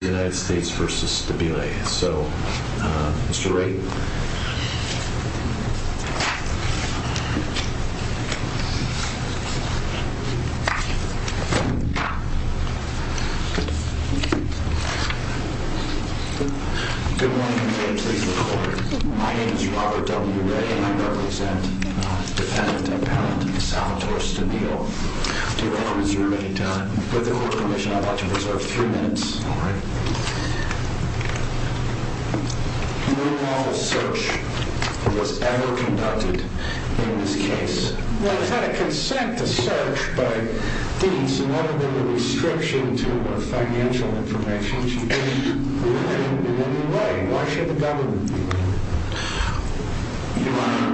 United States versus Stabile. So, Mr. Wray. Good morning and good day to the court. My name is Robert W. Wray and I represent the defendant, Appellant Salvatore Stabile. Do you want to reserve any time? With the court permission, I'd like to reserve three minutes. All right. No lawless search was ever conducted in this case. Well, it's had a consent to search, but it's never been a restriction to financial information. It's never been in any way. Why should the government be? Your Honor,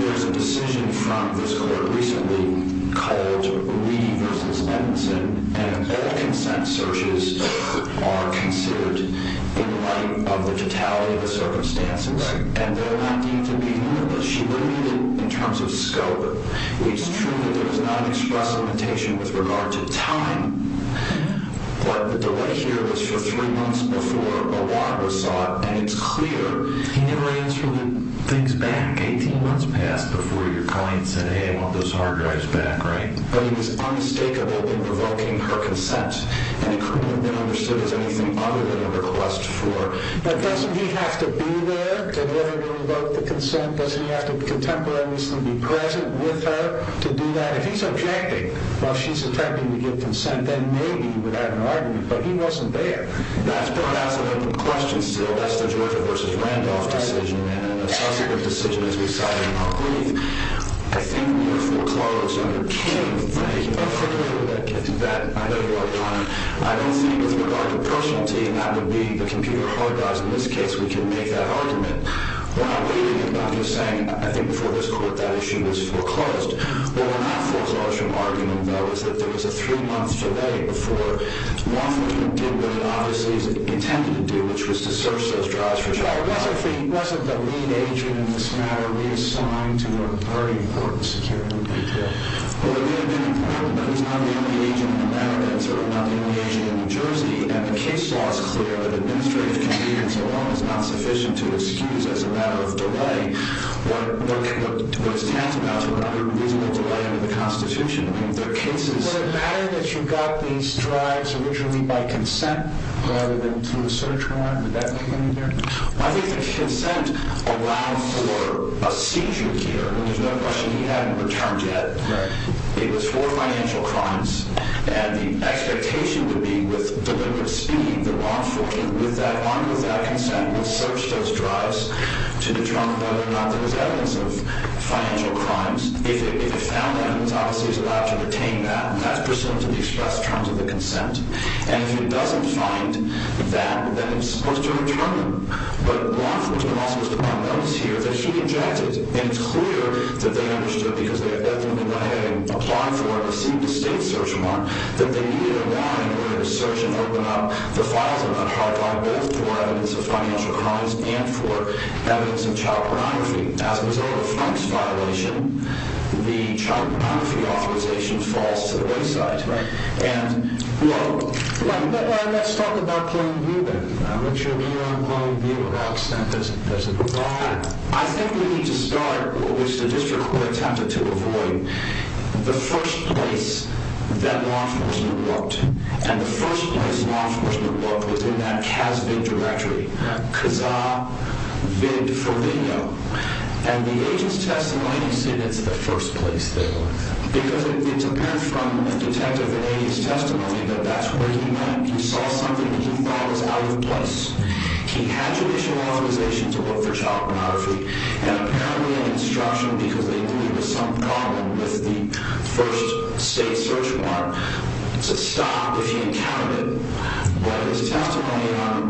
there's a decision from this court recently called Reed v. Edmondson and all consent searches are considered in light of the totality of the circumstances. Right. And they're not deemed to be limitless. She limited it in terms of scope. It's true that there was not an express limitation with regard to time. Yeah. But the delay here was for three months before a warrant was sought and it's clear he never answered things back. Eighteen months passed before your client said, hey, I want those hard drives back, right? But he was unstakeable in provoking her consent. And it couldn't have been understood as anything other than a request for. But doesn't he have to be there to deliver and revoke the consent? Doesn't he have to contemporaneously be present with her to do that? If he's objecting while she's attempting to give consent, then maybe he would have an argument. But he wasn't there. That's perhaps an open question still. That's the Georgia v. Randolph decision and an associative decision as we cited in our brief. I think we are foreclosed on your case. Thank you. I know you are, Donna. I don't think with regard to personality, and that would be the computer hard drives in this case, we can make that argument. We're not believing him. I'm just saying I think before this court that issue was foreclosed. What we're not foreclosed from arguing, though, is that there was a three-month delay before Rothman did what he obviously intended to do, which was to search those drives for child welfare. He wasn't the lead agent in this matter reassigned to a very important security detail. But there may have been a problem, but he's not the only agent in America. And so we're not the only agent in New Jersey. And the case law is clear that administrative convenience alone is not sufficient to excuse, as a matter of delay, what is tantamount to a reasonable delay under the Constitution. Would it matter that you got these drives originally by consent rather than through a search warrant? Would that make any difference? I think the consent allowed for a seizure here. There's no question he hadn't returned yet. It was for financial crimes. And the expectation would be with deliberate speed that Rothman came with that, armed with that consent, would search those drives to determine whether or not there was evidence of financial crimes. If he found evidence, obviously, he was allowed to retain that, and that's presumed to be expressed in terms of the consent. And if he doesn't find that, then he's supposed to return them. But law enforcement was also supposed to find evidence here that he injected. And it's clear that they understood, because they had definitely applied for a state search warrant, that they needed a warrant in order to search and open up the files of that hard-filed death for evidence of financial crimes and for evidence of child pornography. As a result of Frank's violation, the child pornography authorization falls to the wayside. Right. And, well... Let's talk about plain view, then. What's your view on plain view about consent as a provider? I think we need to start, which the district court attempted to avoid, the first place that law enforcement looked. And the first place law enforcement looked was in that CASVID directory, CASA-VID-for-VINO. And the agent's testimony said it's the first place, though. Because it's apparent from the detective and the agent's testimony that that's where he went. He saw something that he thought was out of place. He had judicial authorization to look for child pornography, and apparently an instruction, because they knew there was some problem with the first state search warrant, to stop if he encountered it. But his testimony, my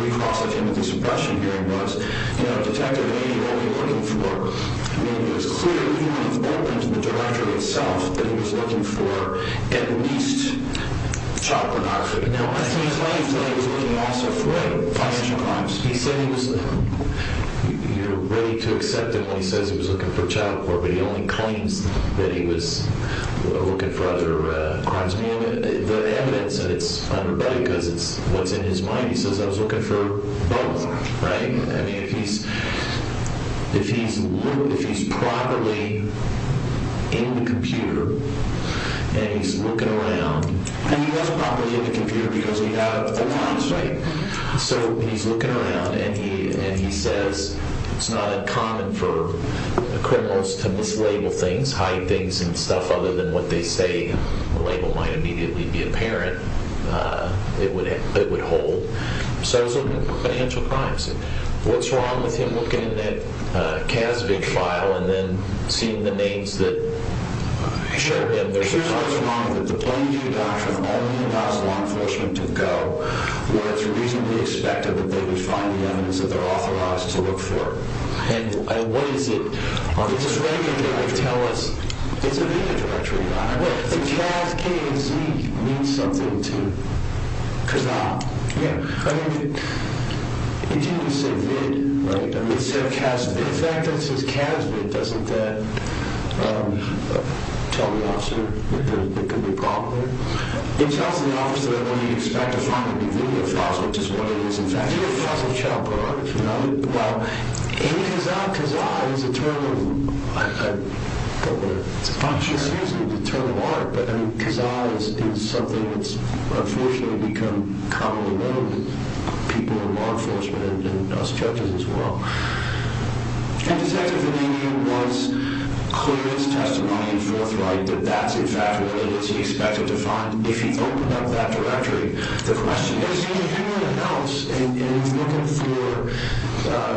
recross of him at the suppression hearing was, you know, Detective, maybe what we're looking for, maybe it was clear, even when he opened the directory itself, that he was looking for at least child pornography. Now, as he was laying there, he was looking also for financial crimes. He said he was ready to accept it when he says he was looking for child porn, but he only claims that he was looking for other crimes. The evidence that it's underbudgeted, because it's what's in his mind, he says, I was looking for both, right? I mean, if he's properly in the computer, and he's looking around, and he was properly in the computer because we have alarms, right? So he's looking around, and he says, it's not uncommon for criminals to mislabel things, hide things and stuff, other than what they say, the label might immediately be apparent. It would hold. So it was looking for financial crimes. What's wrong with him looking in that CASVIG file, and then seeing the names that show him there's a crime? It's usually wrong that the plain view doctrine only allows law enforcement to go where it's reasonably expected that they would find the evidence that they're authorized to look for. And what is it? It's a video directory. The CAS, K and Z mean something to Kazan. Yeah. I mean, it didn't just say VIG, right? It said CASVIG. In fact, it says CASVIG. Doesn't that tell the officer that there could be a problem there? It tells the officer what he'd expect to find in the video files, which is what it is, in fact. Do you think the files have child pornography in them? Well, in Kazan, Kazan is a term of art, but Kazan is something that's unfortunately become commonly known to people in law enforcement and us judges as well. And Detective Vanninian was clear in his testimony and forthright that that's, in fact, what it is he expected to find. If you open up that directory, the question is who in the house is looking for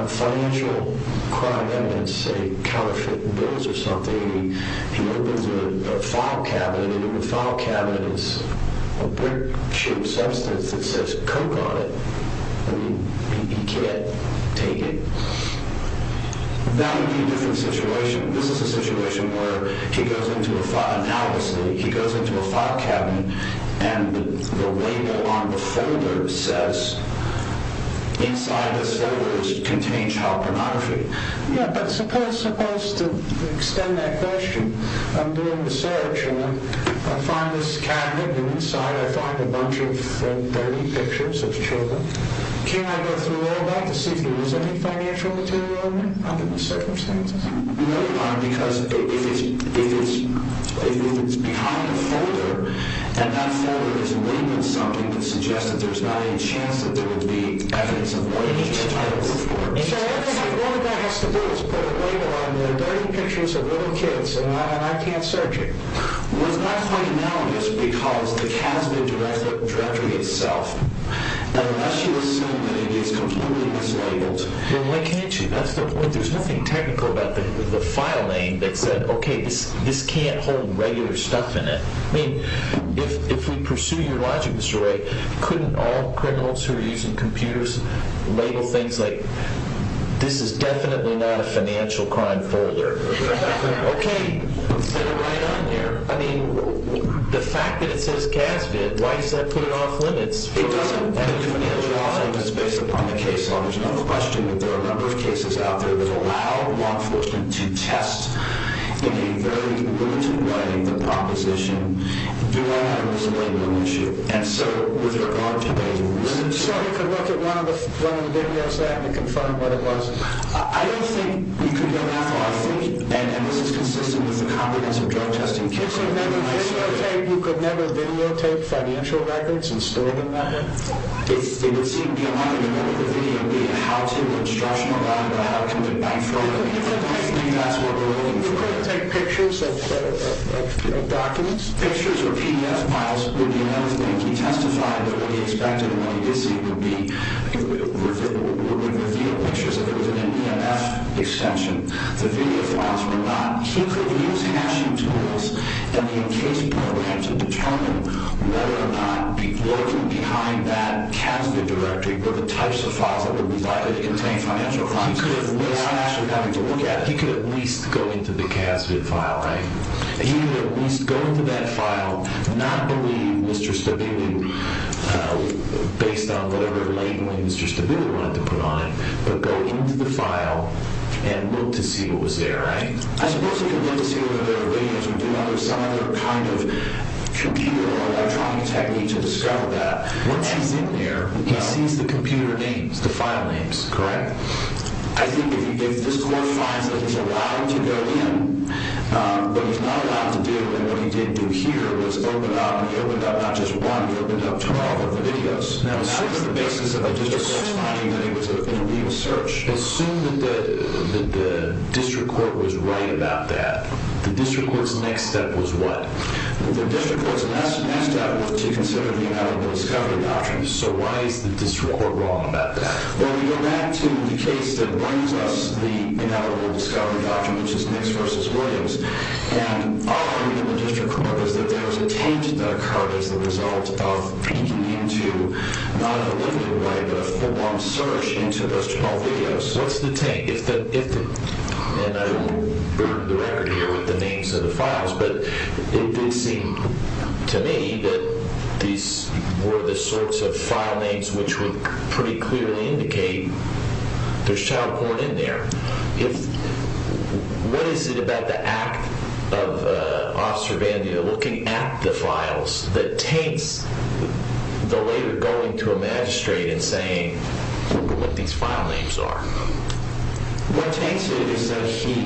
financial crime evidence, say counterfeit bills or something, and he opens a file cabinet, and in the file cabinet is a brick-shaped substance that says Coke on it. I mean, he can't take it. That would be a different situation. This is a situation where he goes into a file cabinet, and the label on the folder says inside this folder contains child pornography. Yeah, but suppose to extend that question, I'm doing the search, and I find this cabinet, and inside I find a bunch of dirty pictures of children. Can I go through all that to see if there was any financial material in it? Under no circumstances. No, you can't, because if it's behind a folder, and that folder is labeled something that suggests that there's not any chance that there would be evidence of child pornography. So all that has to do is put a label on there, dirty pictures of little kids, and I can't search it. Well, it's not quite analogous, because the CASBIT directory itself, unless you assume that it is completely mislabeled. Well, why can't you? That's the point. There's nothing technical about the file name that said, okay, this can't hold regular stuff in it. I mean, if we pursue your logic, Mr. Wray, couldn't all criminals who are using computers label things like, this is definitely not a financial crime folder? Okay. Send it right on there. I mean, the fact that it says CASBIT, why does that put it off limits? It doesn't. And it doesn't have a job. It's based upon the case law. There's no question that there are a number of cases out there that allow law enforcement to test, in a very limited way, the proposition. Do I have a mislabeling issue? And so, with regard to making the decision. So we could look at one of the videos there and confirm what it was. I don't think we could go that far. I think that this is consistent with the competence of drug testing. You could never videotape financial records and store them that way? It would seem to me a lot like a medical video, be it a how-to, a instructional guide, or a how-to for bank fraud. I don't think that's what we're looking for. You couldn't take pictures of, you know, documents? Pictures or PDF files would be enough to make you testify that what you expected and what you did see would be. We would reveal pictures if it was an EMF exception. The video files were not. He could use hashing tools and the in-case program to determine whether or not, working behind that CASVID directory, were the types of files that would be likely to contain financial crimes. He could at least go into the CASVID file, right? But go into the file and look to see what was there, right? Once he's in there, he sees the computer names, the file names, correct? I think if this court finds that he's allowed to go in, what he's not allowed to do and what he did do here was open up, he opened up not just one, he opened up 12 of the videos. How is the basis of a district court finding that he was in a legal search? Assume that the district court was right about that. The district court's next step was what? The district court's next step was to consider the inalienable discovery doctrine. So why is the district court wrong about that? Well, we go back to the case that brings us the inalienable discovery doctrine, which is Nix v. Williams. Our argument in the district court is that there was a taint that occurred as a result of peeking into, not in a limited way, but a full-on search into those 12 videos. What's the taint? And I won't burn the record here with the names of the files, but it did seem to me that these were the sorts of file names which would pretty clearly indicate there's child porn in there. What is it about the act of Officer Vandia looking at the files that taints the later going to a magistrate and saying, look at what these file names are? What taints it is that he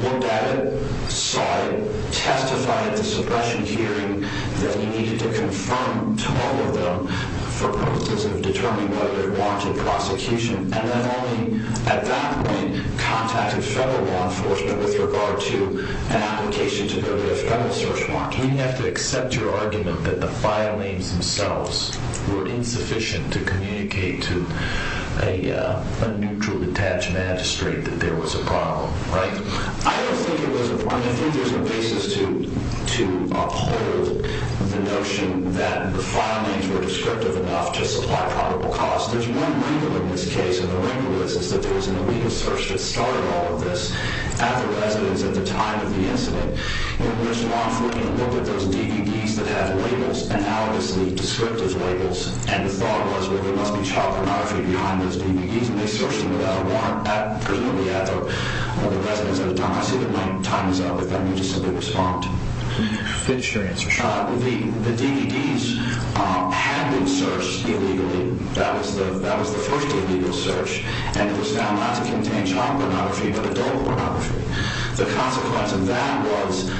looked at it, saw it, testified at the suppression hearing that he needed to confirm 12 of them for purposes of determining whether to launch a prosecution, and then only at that point contacted federal law enforcement with regard to an application to go to a federal search warrant? We have to accept your argument that the file names themselves were insufficient to communicate to a neutrally attached magistrate that there was a problem, right? I don't think it was a problem. I think there's a basis to uphold the notion that the file names were descriptive enough to supply probable cause. There's one wrinkle in this case, and the wrinkle is that there was an illegal search that started all of this at the residence at the time of the incident in which law enforcement looked at those DVDs that had labels, analogously descriptive labels, and the thought was that there must be child pornography behind those DVDs, and they searched them without a warrant at presumably at the residence at the time. I see that my time is up. If I may just simply respond. The DVDs had been searched illegally. That was the first illegal search, and it was found not to contain child pornography but adult pornography. The consequence of that was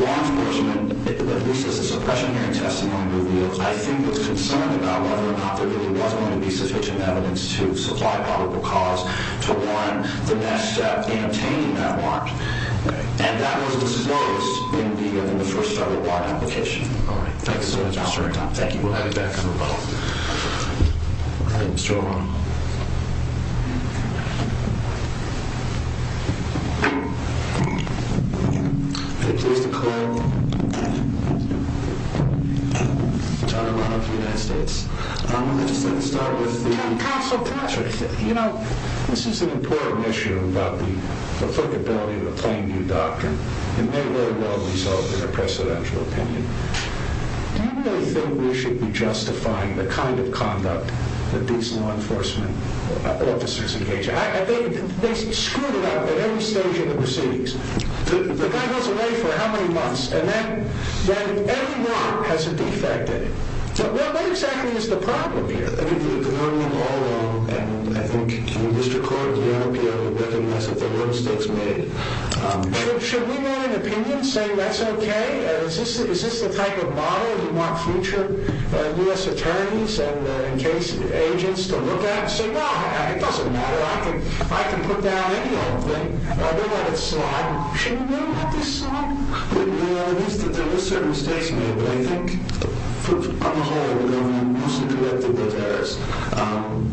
law enforcement, at least as a suppression hearing testimony reveals, I think was concerned about whether or not there really was going to be sufficient evidence to supply probable cause to warrant the next step in obtaining that warrant. And that was what was noticed in the first start of our application. Thank you so much for your time. Thank you. We'll have you back in a moment. All right. Mr. O'Rourke. I'm pleased to call John O'Rourke of the United States. I just wanted to start with the... It may very well result in a precedential opinion. Do you really think we should be justifying the kind of conduct that these law enforcement officers engage in? They screw it up at every stage of the proceedings. The guy goes away for how many months, and then every month has a defect. What exactly is the problem here? I think we've learned them all wrong. And I think, Mr. Court, we ought to be able to recognize that there were mistakes made. Should we write an opinion saying that's okay? Is this the type of model you want future U.S. attorneys and case agents to look at and say, No, it doesn't matter. I can put down any old thing. We'll let it slide. Shouldn't we let this slide? Well, I guess that there were certain mistakes made, but I think, on the whole, we mostly corrected those errors.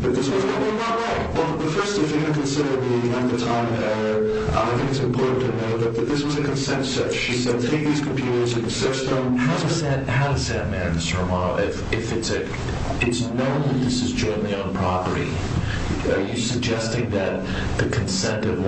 But this was probably not right. Well, first, if you're going to consider the length of time of error, I think it's important to note that this was a consent search. He said that he used computers in the system. How does that matter, Mr. Romano, if it's known that this is jointly on property? Are you suggesting that the consent of,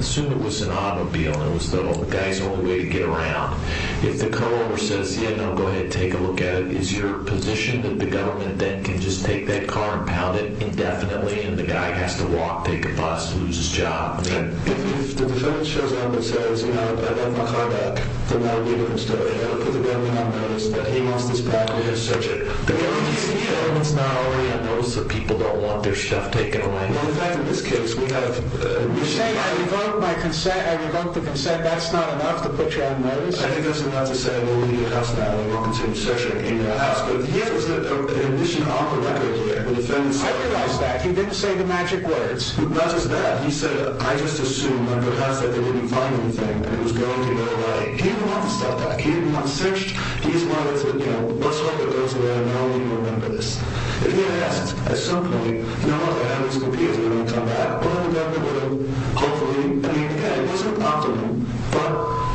assume it was an automobile and it was the guy's only way to get around. If the co-owner says, Yeah, no, go ahead and take a look at it, is your position that the government then can just take that car and pound it indefinitely and the guy has to walk, take a bus, lose his job? If the defendant shows up and says, You know, I left my car back, then that would be a different story. I would put the government on notice that he wants this back and he has to search it. The government's not already on notice that people don't want their stuff taken away. Well, in fact, in this case, we have. You're saying I revoked my consent, I revoked the consent. That's not enough to put you on notice? I think that's enough to say, Well, we need a house now and we're considering searching in your house. But he has a condition on the record here. The defendant said. I realize that. He didn't say the magic words. He doesn't say that. He said, I just assumed that perhaps they wouldn't find anything. He didn't want the stuff back. He didn't want it searched. He just wanted to, you know, let's hope it goes away. I don't even remember this. If he had asked, I assume he would have said, No, I have this computer. I'm going to come back. Well, then the government would have. Hopefully. I mean, again, it wasn't optimal. But,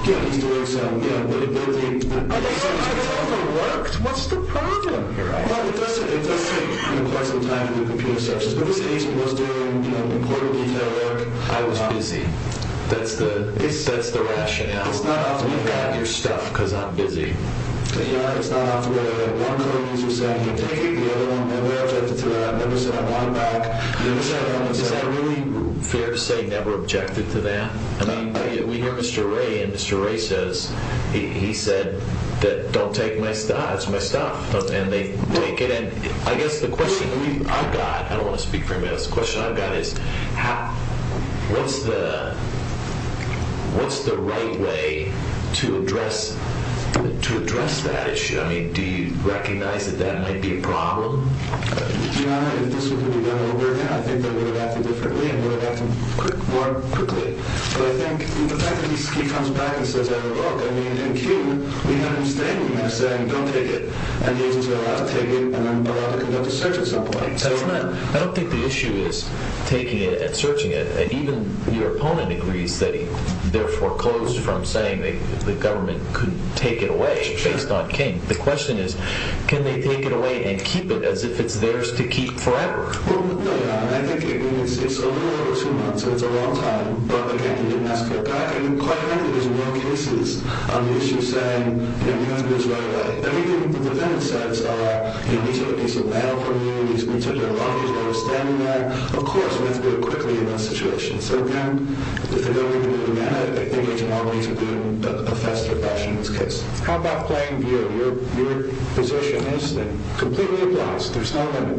you know, he's doing something. Yeah. I don't know if it worked. What's the problem here? Well, it does take quite some time for the computer to search this. But in this case, he was doing, you know, important detail work. I was busy. That's the. That's the rationale. We've got your stuff because I'm busy. Is that really fair to say never objected to that? I mean, we hear Mr. Ray and Mr. Ray says he said that. Don't take my stuff. It's my stuff. And they take it. And I guess the question I've got. I don't want to speak for him. But the question I've got is, what's the right way to address that issue? I mean, do you recognize that that might be a problem? Your Honor, if this were to be done over again, I think they would have acted differently and would have acted more quickly. But I think the fact that he comes back and says, look, I mean, in King, we have him standing there saying, don't take it. And the agents are allowed to take it and allowed to conduct a search at some point. That's not. I don't think the issue is taking it and searching it. And even your opponent agrees that he therefore closed from saying the government could take it away based on King. The question is, can they take it away and keep it as if it's theirs to keep forever? Well, no, Your Honor. I think it's a little over two months. It's a long time. But, again, he didn't ask for it back. And quite frankly, there's no cases on the issue saying, you know, you have to do this right away. Everything the defendant says, he needs to get a piece of mail from you. He needs to get a luggage. I understand that. Of course, we have to do it quickly in this situation. So, again, if the government didn't demand it, I think there's no way to do it in a faster fashion in this case. How about Plainview? Your position is that it completely applies. There's no limit.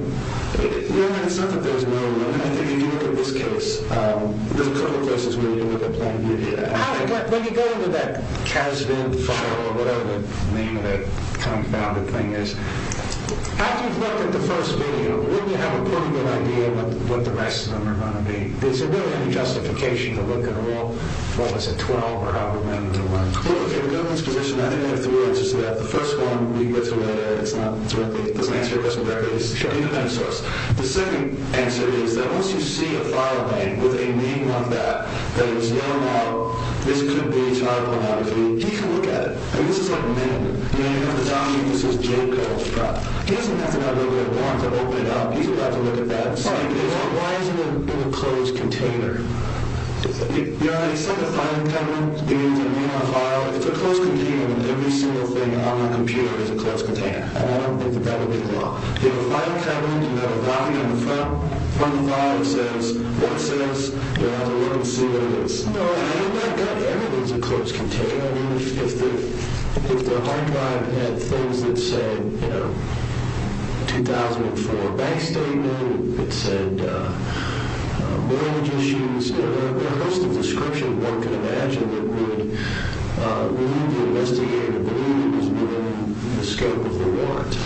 Your Honor, it's not that there's no limit. I think if you look at this case, there's a couple of places where you look at Plainview. When you go into that Kasdan file or whatever the name of that compounded thing is, after you've looked at the first video, wouldn't you have a pretty good idea of what the rest of them are going to be? Is there really any justification to look at all, what was it, 12 or however many there were? Look, in the government's position, I think I have three answers to that. The first one, we can go through that later. It's not directly, it doesn't answer your question directly. Sure. It depends on us. The second answer is that once you see a file name with a name on that that is no longer, this could be child pornography, he can look at it. I mean, this is like men. You know, you have the zombie who says Jacob. Right. He doesn't have to have a real warrant to open it up. He's allowed to look at that. Right. Why is it in a closed container? Your Honor, it's like a filing counter. It's a closed container and every single thing on the computer is a closed container. And I don't think that that would be the law. You have a filing cabinet, you have a copy on the front of the file that says what it says. You're allowed to look and see what it is. No, I mean, in that gut, everything is a closed container. I mean, if the hard drive had things that said, you know, 2004 bank statement, it said mortgage issues, there are a host of descriptions one could imagine that would lead the investigator to believe it was within the scope of the warrant.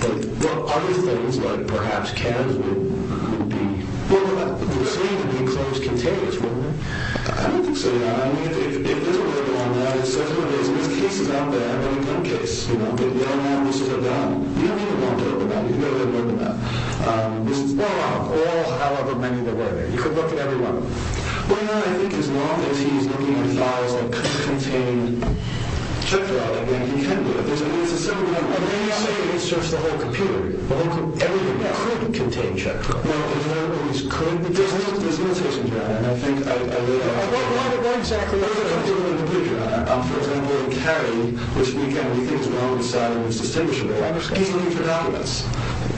But other things, like perhaps cabs, would be open up. Well, it would seem to be closed containers, wouldn't it? I don't think so, Your Honor. I mean, if there's a warrant on that, it says what it is. And there's cases out there, I mean, one case, you know, that you don't have to open up. You don't even have to open up. You can go ahead and open up. Well, all, however many there were there. You could look at every one of them. Well, Your Honor, I think as long as he's looking at files that could contain check fraud, I think he can do it. I mean, it's a simple matter. I mean, let's say he searched the whole computer. Well, then everything could contain check fraud. No, in other words, there's limitations, Your Honor. And I think I would argue that. What exactly are the limitations? For example, Kerry, which we can, we think is well-decided and is distinguishable. He's looking for documents.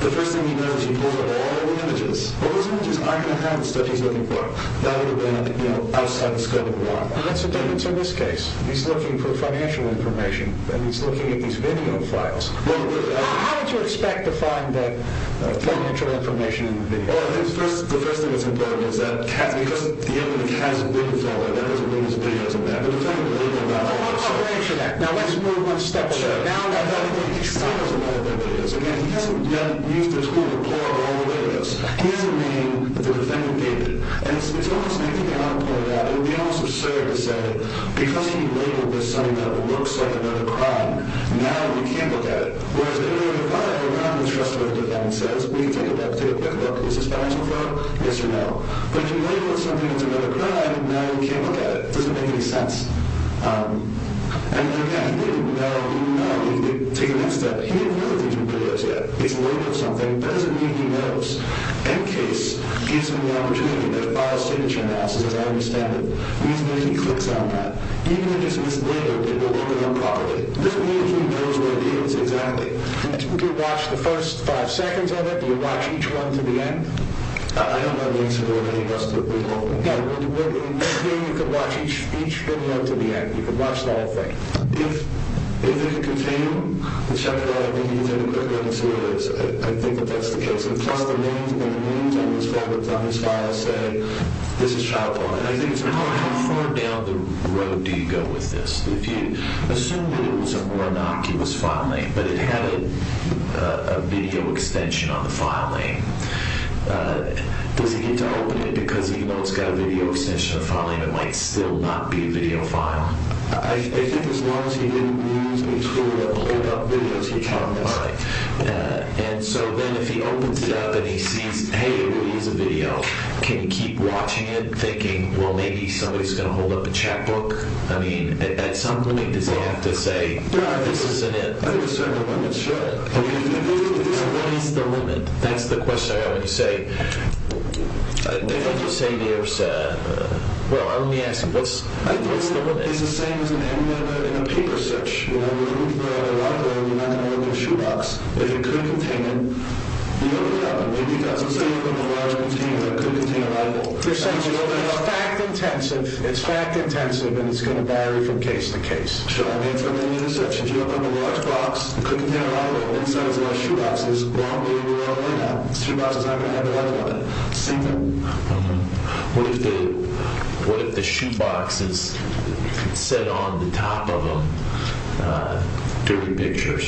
The first thing he knows, he pulls up all the images. Well, those images aren't going to have the stuff he's looking for. That would have been, you know, outside the scope of the warrant. And that's the difference in this case. He's looking for financial information. And he's looking at these video files. Well, how would you expect to find the financial information in the video files? Well, I think the first thing that's important is that because the evidence has a legal value, that doesn't mean his video isn't there. But the thing is the legal value. Well, we'll wait for that. Now, let's move one step away. Sure. I thought he was going to use the tool to pull up all the videos. He doesn't mean that the defendant gave it. And it's almost, and I think Your Honor pointed out, it would be almost absurd to say because he labeled this something that looks like another crime, now you can't look at it. Whereas if it were a crime, you're not going to trust what the defendant says. We can take a look, take a quick look. Is this financial fraud? Yes or no. But if you label it something that's another crime, now you can't look at it. It doesn't make any sense. And again, he didn't know. He didn't know. Take the next step. He didn't know that these were videos yet. He's labeled something. That doesn't mean he knows. End case gives him the opportunity to file a signature analysis, as I understand it. The reason is he clicks on that. Even if it's just mislabeled, they don't look at them properly. This means he knows what it is exactly. Do you watch the first five seconds of it? Do you watch each one to the end? I don't know the answer to that. He must have removed them. You can watch each video to the end. You can watch the whole thing. If it's a container, it's not going to allow you to use any quick links to it. I think that that's the case. Plus, the names on his file say, this is child law. And I think it's important. How far down the road do you go with this? Assume that it was an ornock. It was file name. But it had a video extension on the file name. Does he get to open it? Because even though it's got a video extension on the file name, it might still not be a video file. I think as long as he didn't use it to hold up videos, he can. All right. And so then if he opens it up and he sees, hey, it really is a video, can he keep watching it, thinking, well, maybe somebody's going to hold up a chapbook? I mean, at some limit, does he have to say, this isn't it? I think a certain limit should. What is the limit? That's the question I have when you say, well, let me ask you, what's the limit? It's the same as an emulator in a paper search. You know, you're looking for a library and you're not going to open a shoebox. If it could contain it, you open it up. Maybe it doesn't say you open a large container, but it could contain a library. It's fact-intensive. It's fact-intensive, and it's going to vary from case to case. What if the shoebox is set on the top of a dirty picture?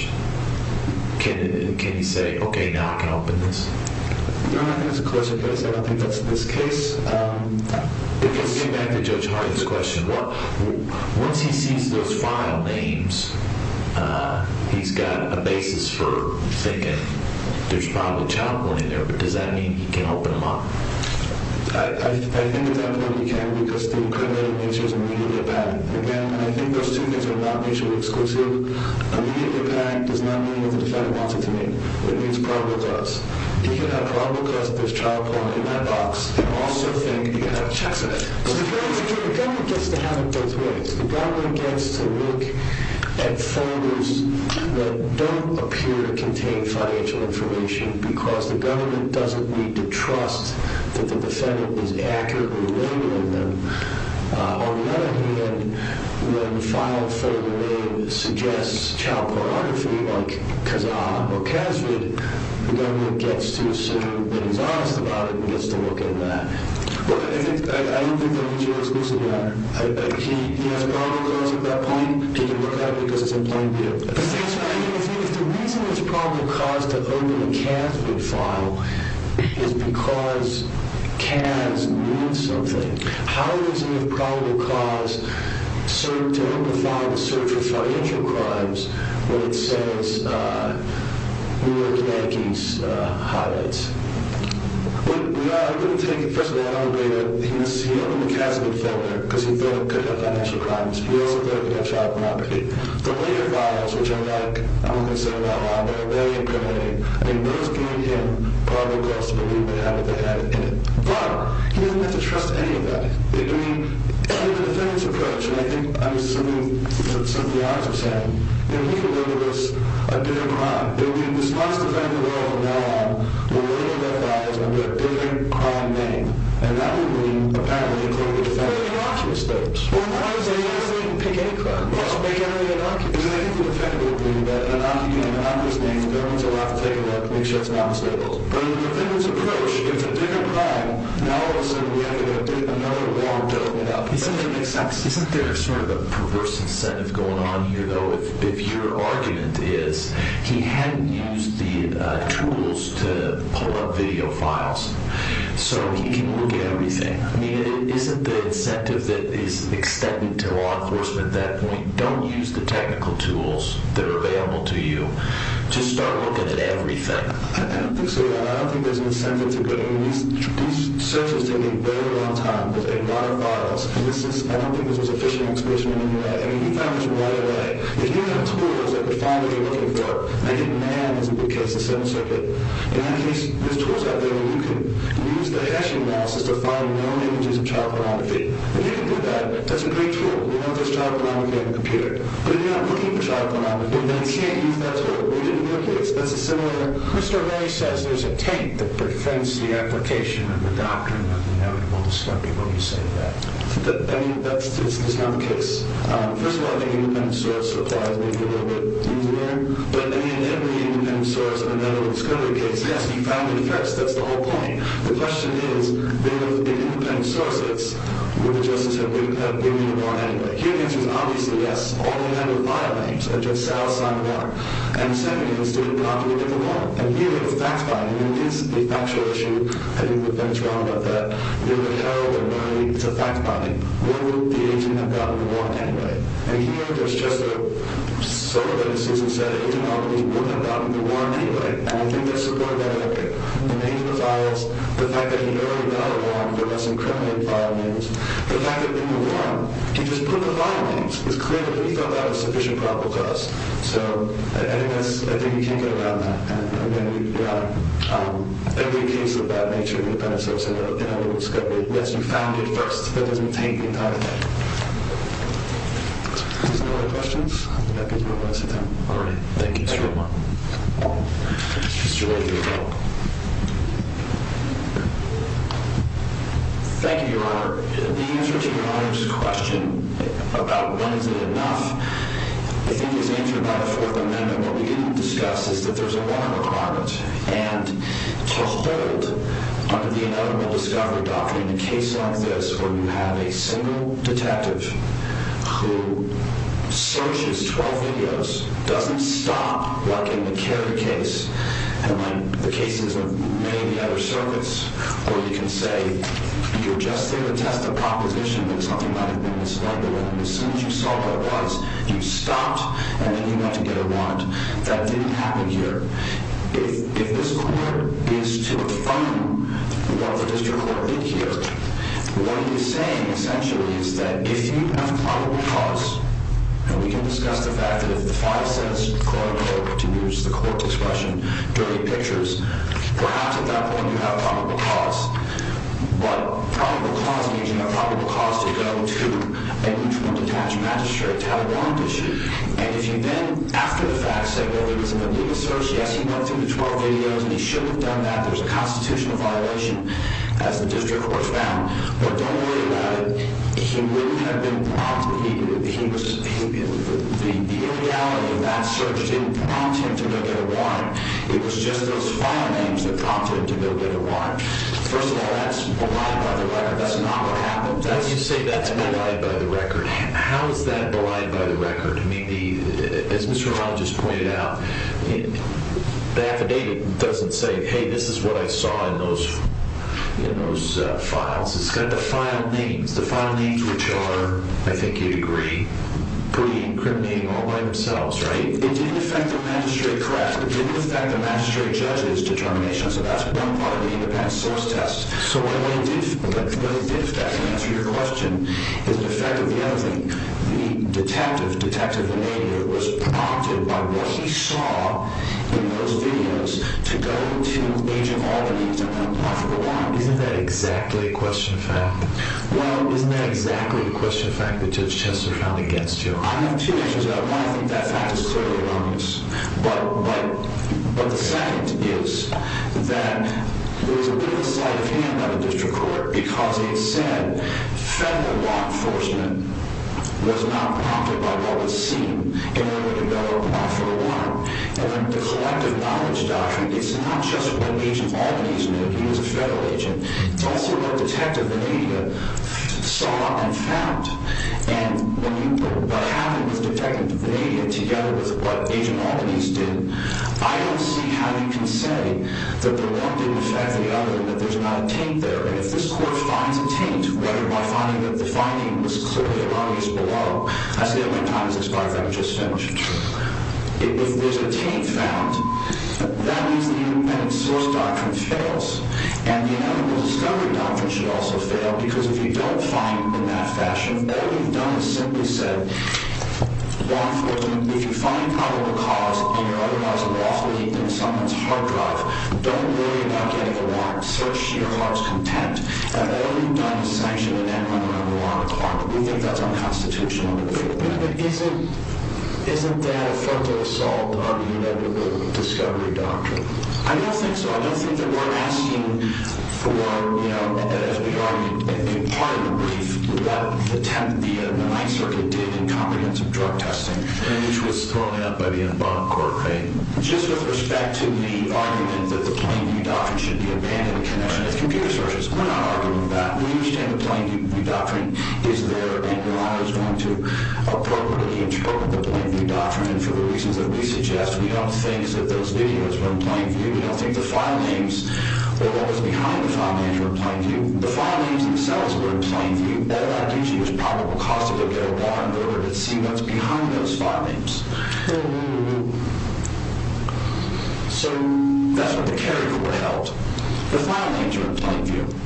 Can you say, okay, now I can open this? I don't think that's the case. It goes back to Judge Hart's question. Once he sees those file names, he's got a basis for thinking, there's probably child porn in there, but does that mean he can open them up? I think it definitely can, because the accredited nature is immediate impact. Again, I think those two things are not mutually exclusive. Immediate impact does not mean what the defendant wants it to mean. It means probable cause. If you have probable cause, there's child porn in that box, and also think you can have checks in it. The government gets to have it both ways. The government gets to look at folders that don't appear to contain financial information because the government doesn't need to trust that the defendant is accurately labeling them. On the other hand, when a file folder name suggests child pornography, like Kazaa or Kazvid, the government gets to assume that he's honest about it and gets to look at that. I don't think they're mutually exclusive. He has probable cause at that point. He can look at it because it's in plain view. If the reason it's probable cause to open a Kazvid file is because Kaz means something, how does he have probable cause to open a file to search for financial crimes when it says we look at Yankee's highlights? I'm going to take it first of all out of the way that he opened the Kazvid folder because he thought it could have financial crimes. He also thought it could have child pornography. The later files, which I'm not going to say a lot about, are very impriminating. I mean, those give him probable cause to believe they have what they have in it. But he doesn't get to trust any of that. I mean, in the defendant's approach, and I think this is something that some of the others are saying, he could label this a different crime. There would be in this last event in the world and now on, a little bit of files under a different crime name, and that would mean, apparently, it would be a defendant. But they're the archivist's. Well, that doesn't mean they can pick any crime. Well, they can't be an archivist. Because I think the defendant would believe that an archivist's name, if everyone's allowed to take it up, makes sure it's not unstable. But in the defendant's approach, if it's a bigger crime, now all of a sudden we have to update another warrant to open it up. Isn't there sort of a perverse incentive going on here, though, if your argument is he hadn't used the tools to pull up video files? So he can look at everything. I mean, isn't the incentive that is extended to law enforcement at that point, don't use the technical tools that are available to you. Just start looking at everything. I don't think so. I don't think there's an incentive to do it. I mean, these searches take a very long time. There's a lot of files. I don't think there's a sufficient exposition in any way. I mean, you found this right away. If you have tools that could find what you're looking for, I think NAM is a good case, the Seventh Circuit. In that case, there's tools out there where you can use the hashing analysis to find known images of child pornography. If you can do that, that's a great tool. You know if there's child pornography on the computer. But if you're not looking for child pornography, then you can't use that tool. That's a similar thing. Mr. O'Reilly says there's a taint that prevents the application of the doctrine of inevitable discovery. What do you say to that? I mean, that's just not the case. First of all, I think independent source applies maybe a little bit easier. But, I mean, every independent source in the Netherlands could be the case. Yes, he found the threats. That's the whole point. The question is, in independent sources, would the justice have given him more money? His answer is obviously yes. All he had were filenames that just sat outside the bar. And he said, he didn't have to look at the warrant. And here, the fact-finding is a factual issue. I think the fact-finding is wrong about that. It's a fact-finding. Why would the agent have gotten the warrant anyway? And here, there's just sort of a decision set. He did not believe he would have gotten the warrant anyway. And I think that's supported by the fact that he already got a warrant for less incriminating filenames. The fact that he didn't have a warrant. He just put the filenames. It's clear that he thought that was a sufficient problem to us. So, I think you can't go around that. And, again, you're right. Every case of that nature, independent source in the Netherlands, yes, you found it first. That doesn't take the entire thing. Any other questions? All right. Thank you. Thank you very much. Thank you. Thank you, Your Honor. Your Honor, the answer to Your Honor's question about when is it enough, I think is answered by the Fourth Amendment. What we didn't discuss is that there's a warrant requirement. And to hold under the Ineligible Discovery Doctrine a case like this where you have a single detective who searches 12 videos doesn't stop working to carry the case. And in the cases of many of the other circuits, where you can say you're just here to test a proposition that something might have been mislabeled. And as soon as you saw what it was, you stopped, and then you went to get a warrant. That didn't happen here. If this court is to affirm what the district court did here, what it is saying, essentially, is that if you have probable cause, and we can discuss the fact that if the file says, quote, unquote, to use the court's expression, dirty pictures, perhaps at that point you have probable cause. But probable cause means you have probable cause to go to a detached magistrate to have a warrant issued. And if you then, after the fact, say, well, there was an illegal search, yes, he went through the 12 videos, and he shouldn't have done that. There's a constitutional violation, as the district court found. But don't worry about it. He wouldn't have been prompted. The irreality of that search didn't prompt him to go get a warrant. It was just those file names that prompted him to go get a warrant. First of all, that's belied by the record. That's not what happened. When you say that's belied by the record, how is that belied by the record? I mean, as Mr. Romano just pointed out, the affidavit doesn't say, hey, this is what I saw in those files. It's got the file names, the file names which are, I think you'd agree, pretty incriminating all by themselves, right? It didn't affect the magistrate, correct? It didn't affect the magistrate judge's determination, so that's one part of the independent source test. So what it did, if that can answer your question, is it affected the other thing? The detective, Detective Romano, was prompted by what he saw in those videos to go to Agent Albany to have a probable warrant. Isn't that exactly a question of fact? Well, isn't that exactly the question of fact that Judge Chester found against you? I have two answers to that. One, I think that fact is clearly wrong. But the second is that it was a bit of a sleight of hand of the district court because it said federal law enforcement was not prompted by what was seen in order to go offer a warrant. And the collective knowledge doctrine, it's not just what Agent Albany's knew. He was a federal agent. It's also what Detective Venita saw and found. And when you put what happened with Detective Venita together with what Agent Albany's did, I don't see how you can say that the one didn't affect the other and that there's not a taint there. And if this court finds a taint, whether by finding that the finding was clearly wrong or is below, I say that my time has expired. I'm just finishing. If there's a taint found, that means the independent source doctrine fails. And the inevitable discovery doctrine should also fail because if you don't find in that fashion, all you've done is simply said, law enforcement, if you find probable cause and you're otherwise a lawful heathen in someone's hard drive, don't worry about getting a warrant. Search your heart's content. And all you've done is sanction an N-100 warrant. We think that's unconstitutional. Isn't that a frontal assault on the inevitable discovery doctrine? I don't think so. I don't think that we're asking for, as we argued in part of the brief, what the Ninth Circuit did in confidence of drug testing, which was thrown out by the Enbonne Court, right? Just with respect to the argument that the Plainview Doctrine should be abandoned in connection with computer searches. We're not arguing that. We understand the Plainview Doctrine is there, and we always want to appropriately interpret the Plainview Doctrine. And for the reasons that we suggest, we don't think that those videos were in Plainview. We don't think the filenames or what was behind the filenames were in Plainview. The filenames themselves were in Plainview. That, in our opinion, was probable cause to look at a warrant in order to see what's behind those filenames. So that's what the carrier court held. The filenames were in Plainview.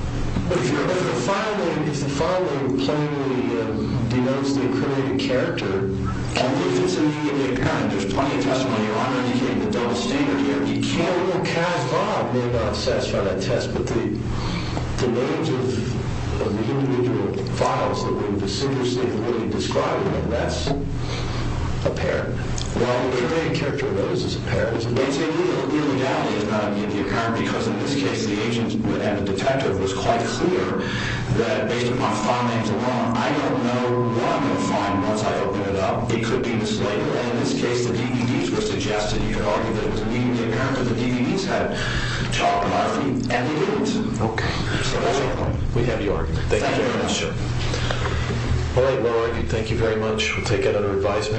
But if the filename plainly denotes the incriminated character, and if it's immediately apparent there's plenty of testimony or I'm indicating a double standard here, you can't look at it and say, well, it may not satisfy that test, but the names of the individual files that were in the decider state were really described, and that's apparent. Well, the carrier character of those is apparent. It may take you a little while to get the account, because in this case, the agent would have a detective who was quite clear that based on my filenames alone, I don't know what I'm going to find once I open it up. It could be mislabeled. And in this case, the DVDs were suggested. You could argue that it was immediately apparent that the DVDs had talked about me, and they didn't. Okay. So that's your point. We have your argument. Thank you very much. All right, well argued. Thank you very much. We'll take another advisement.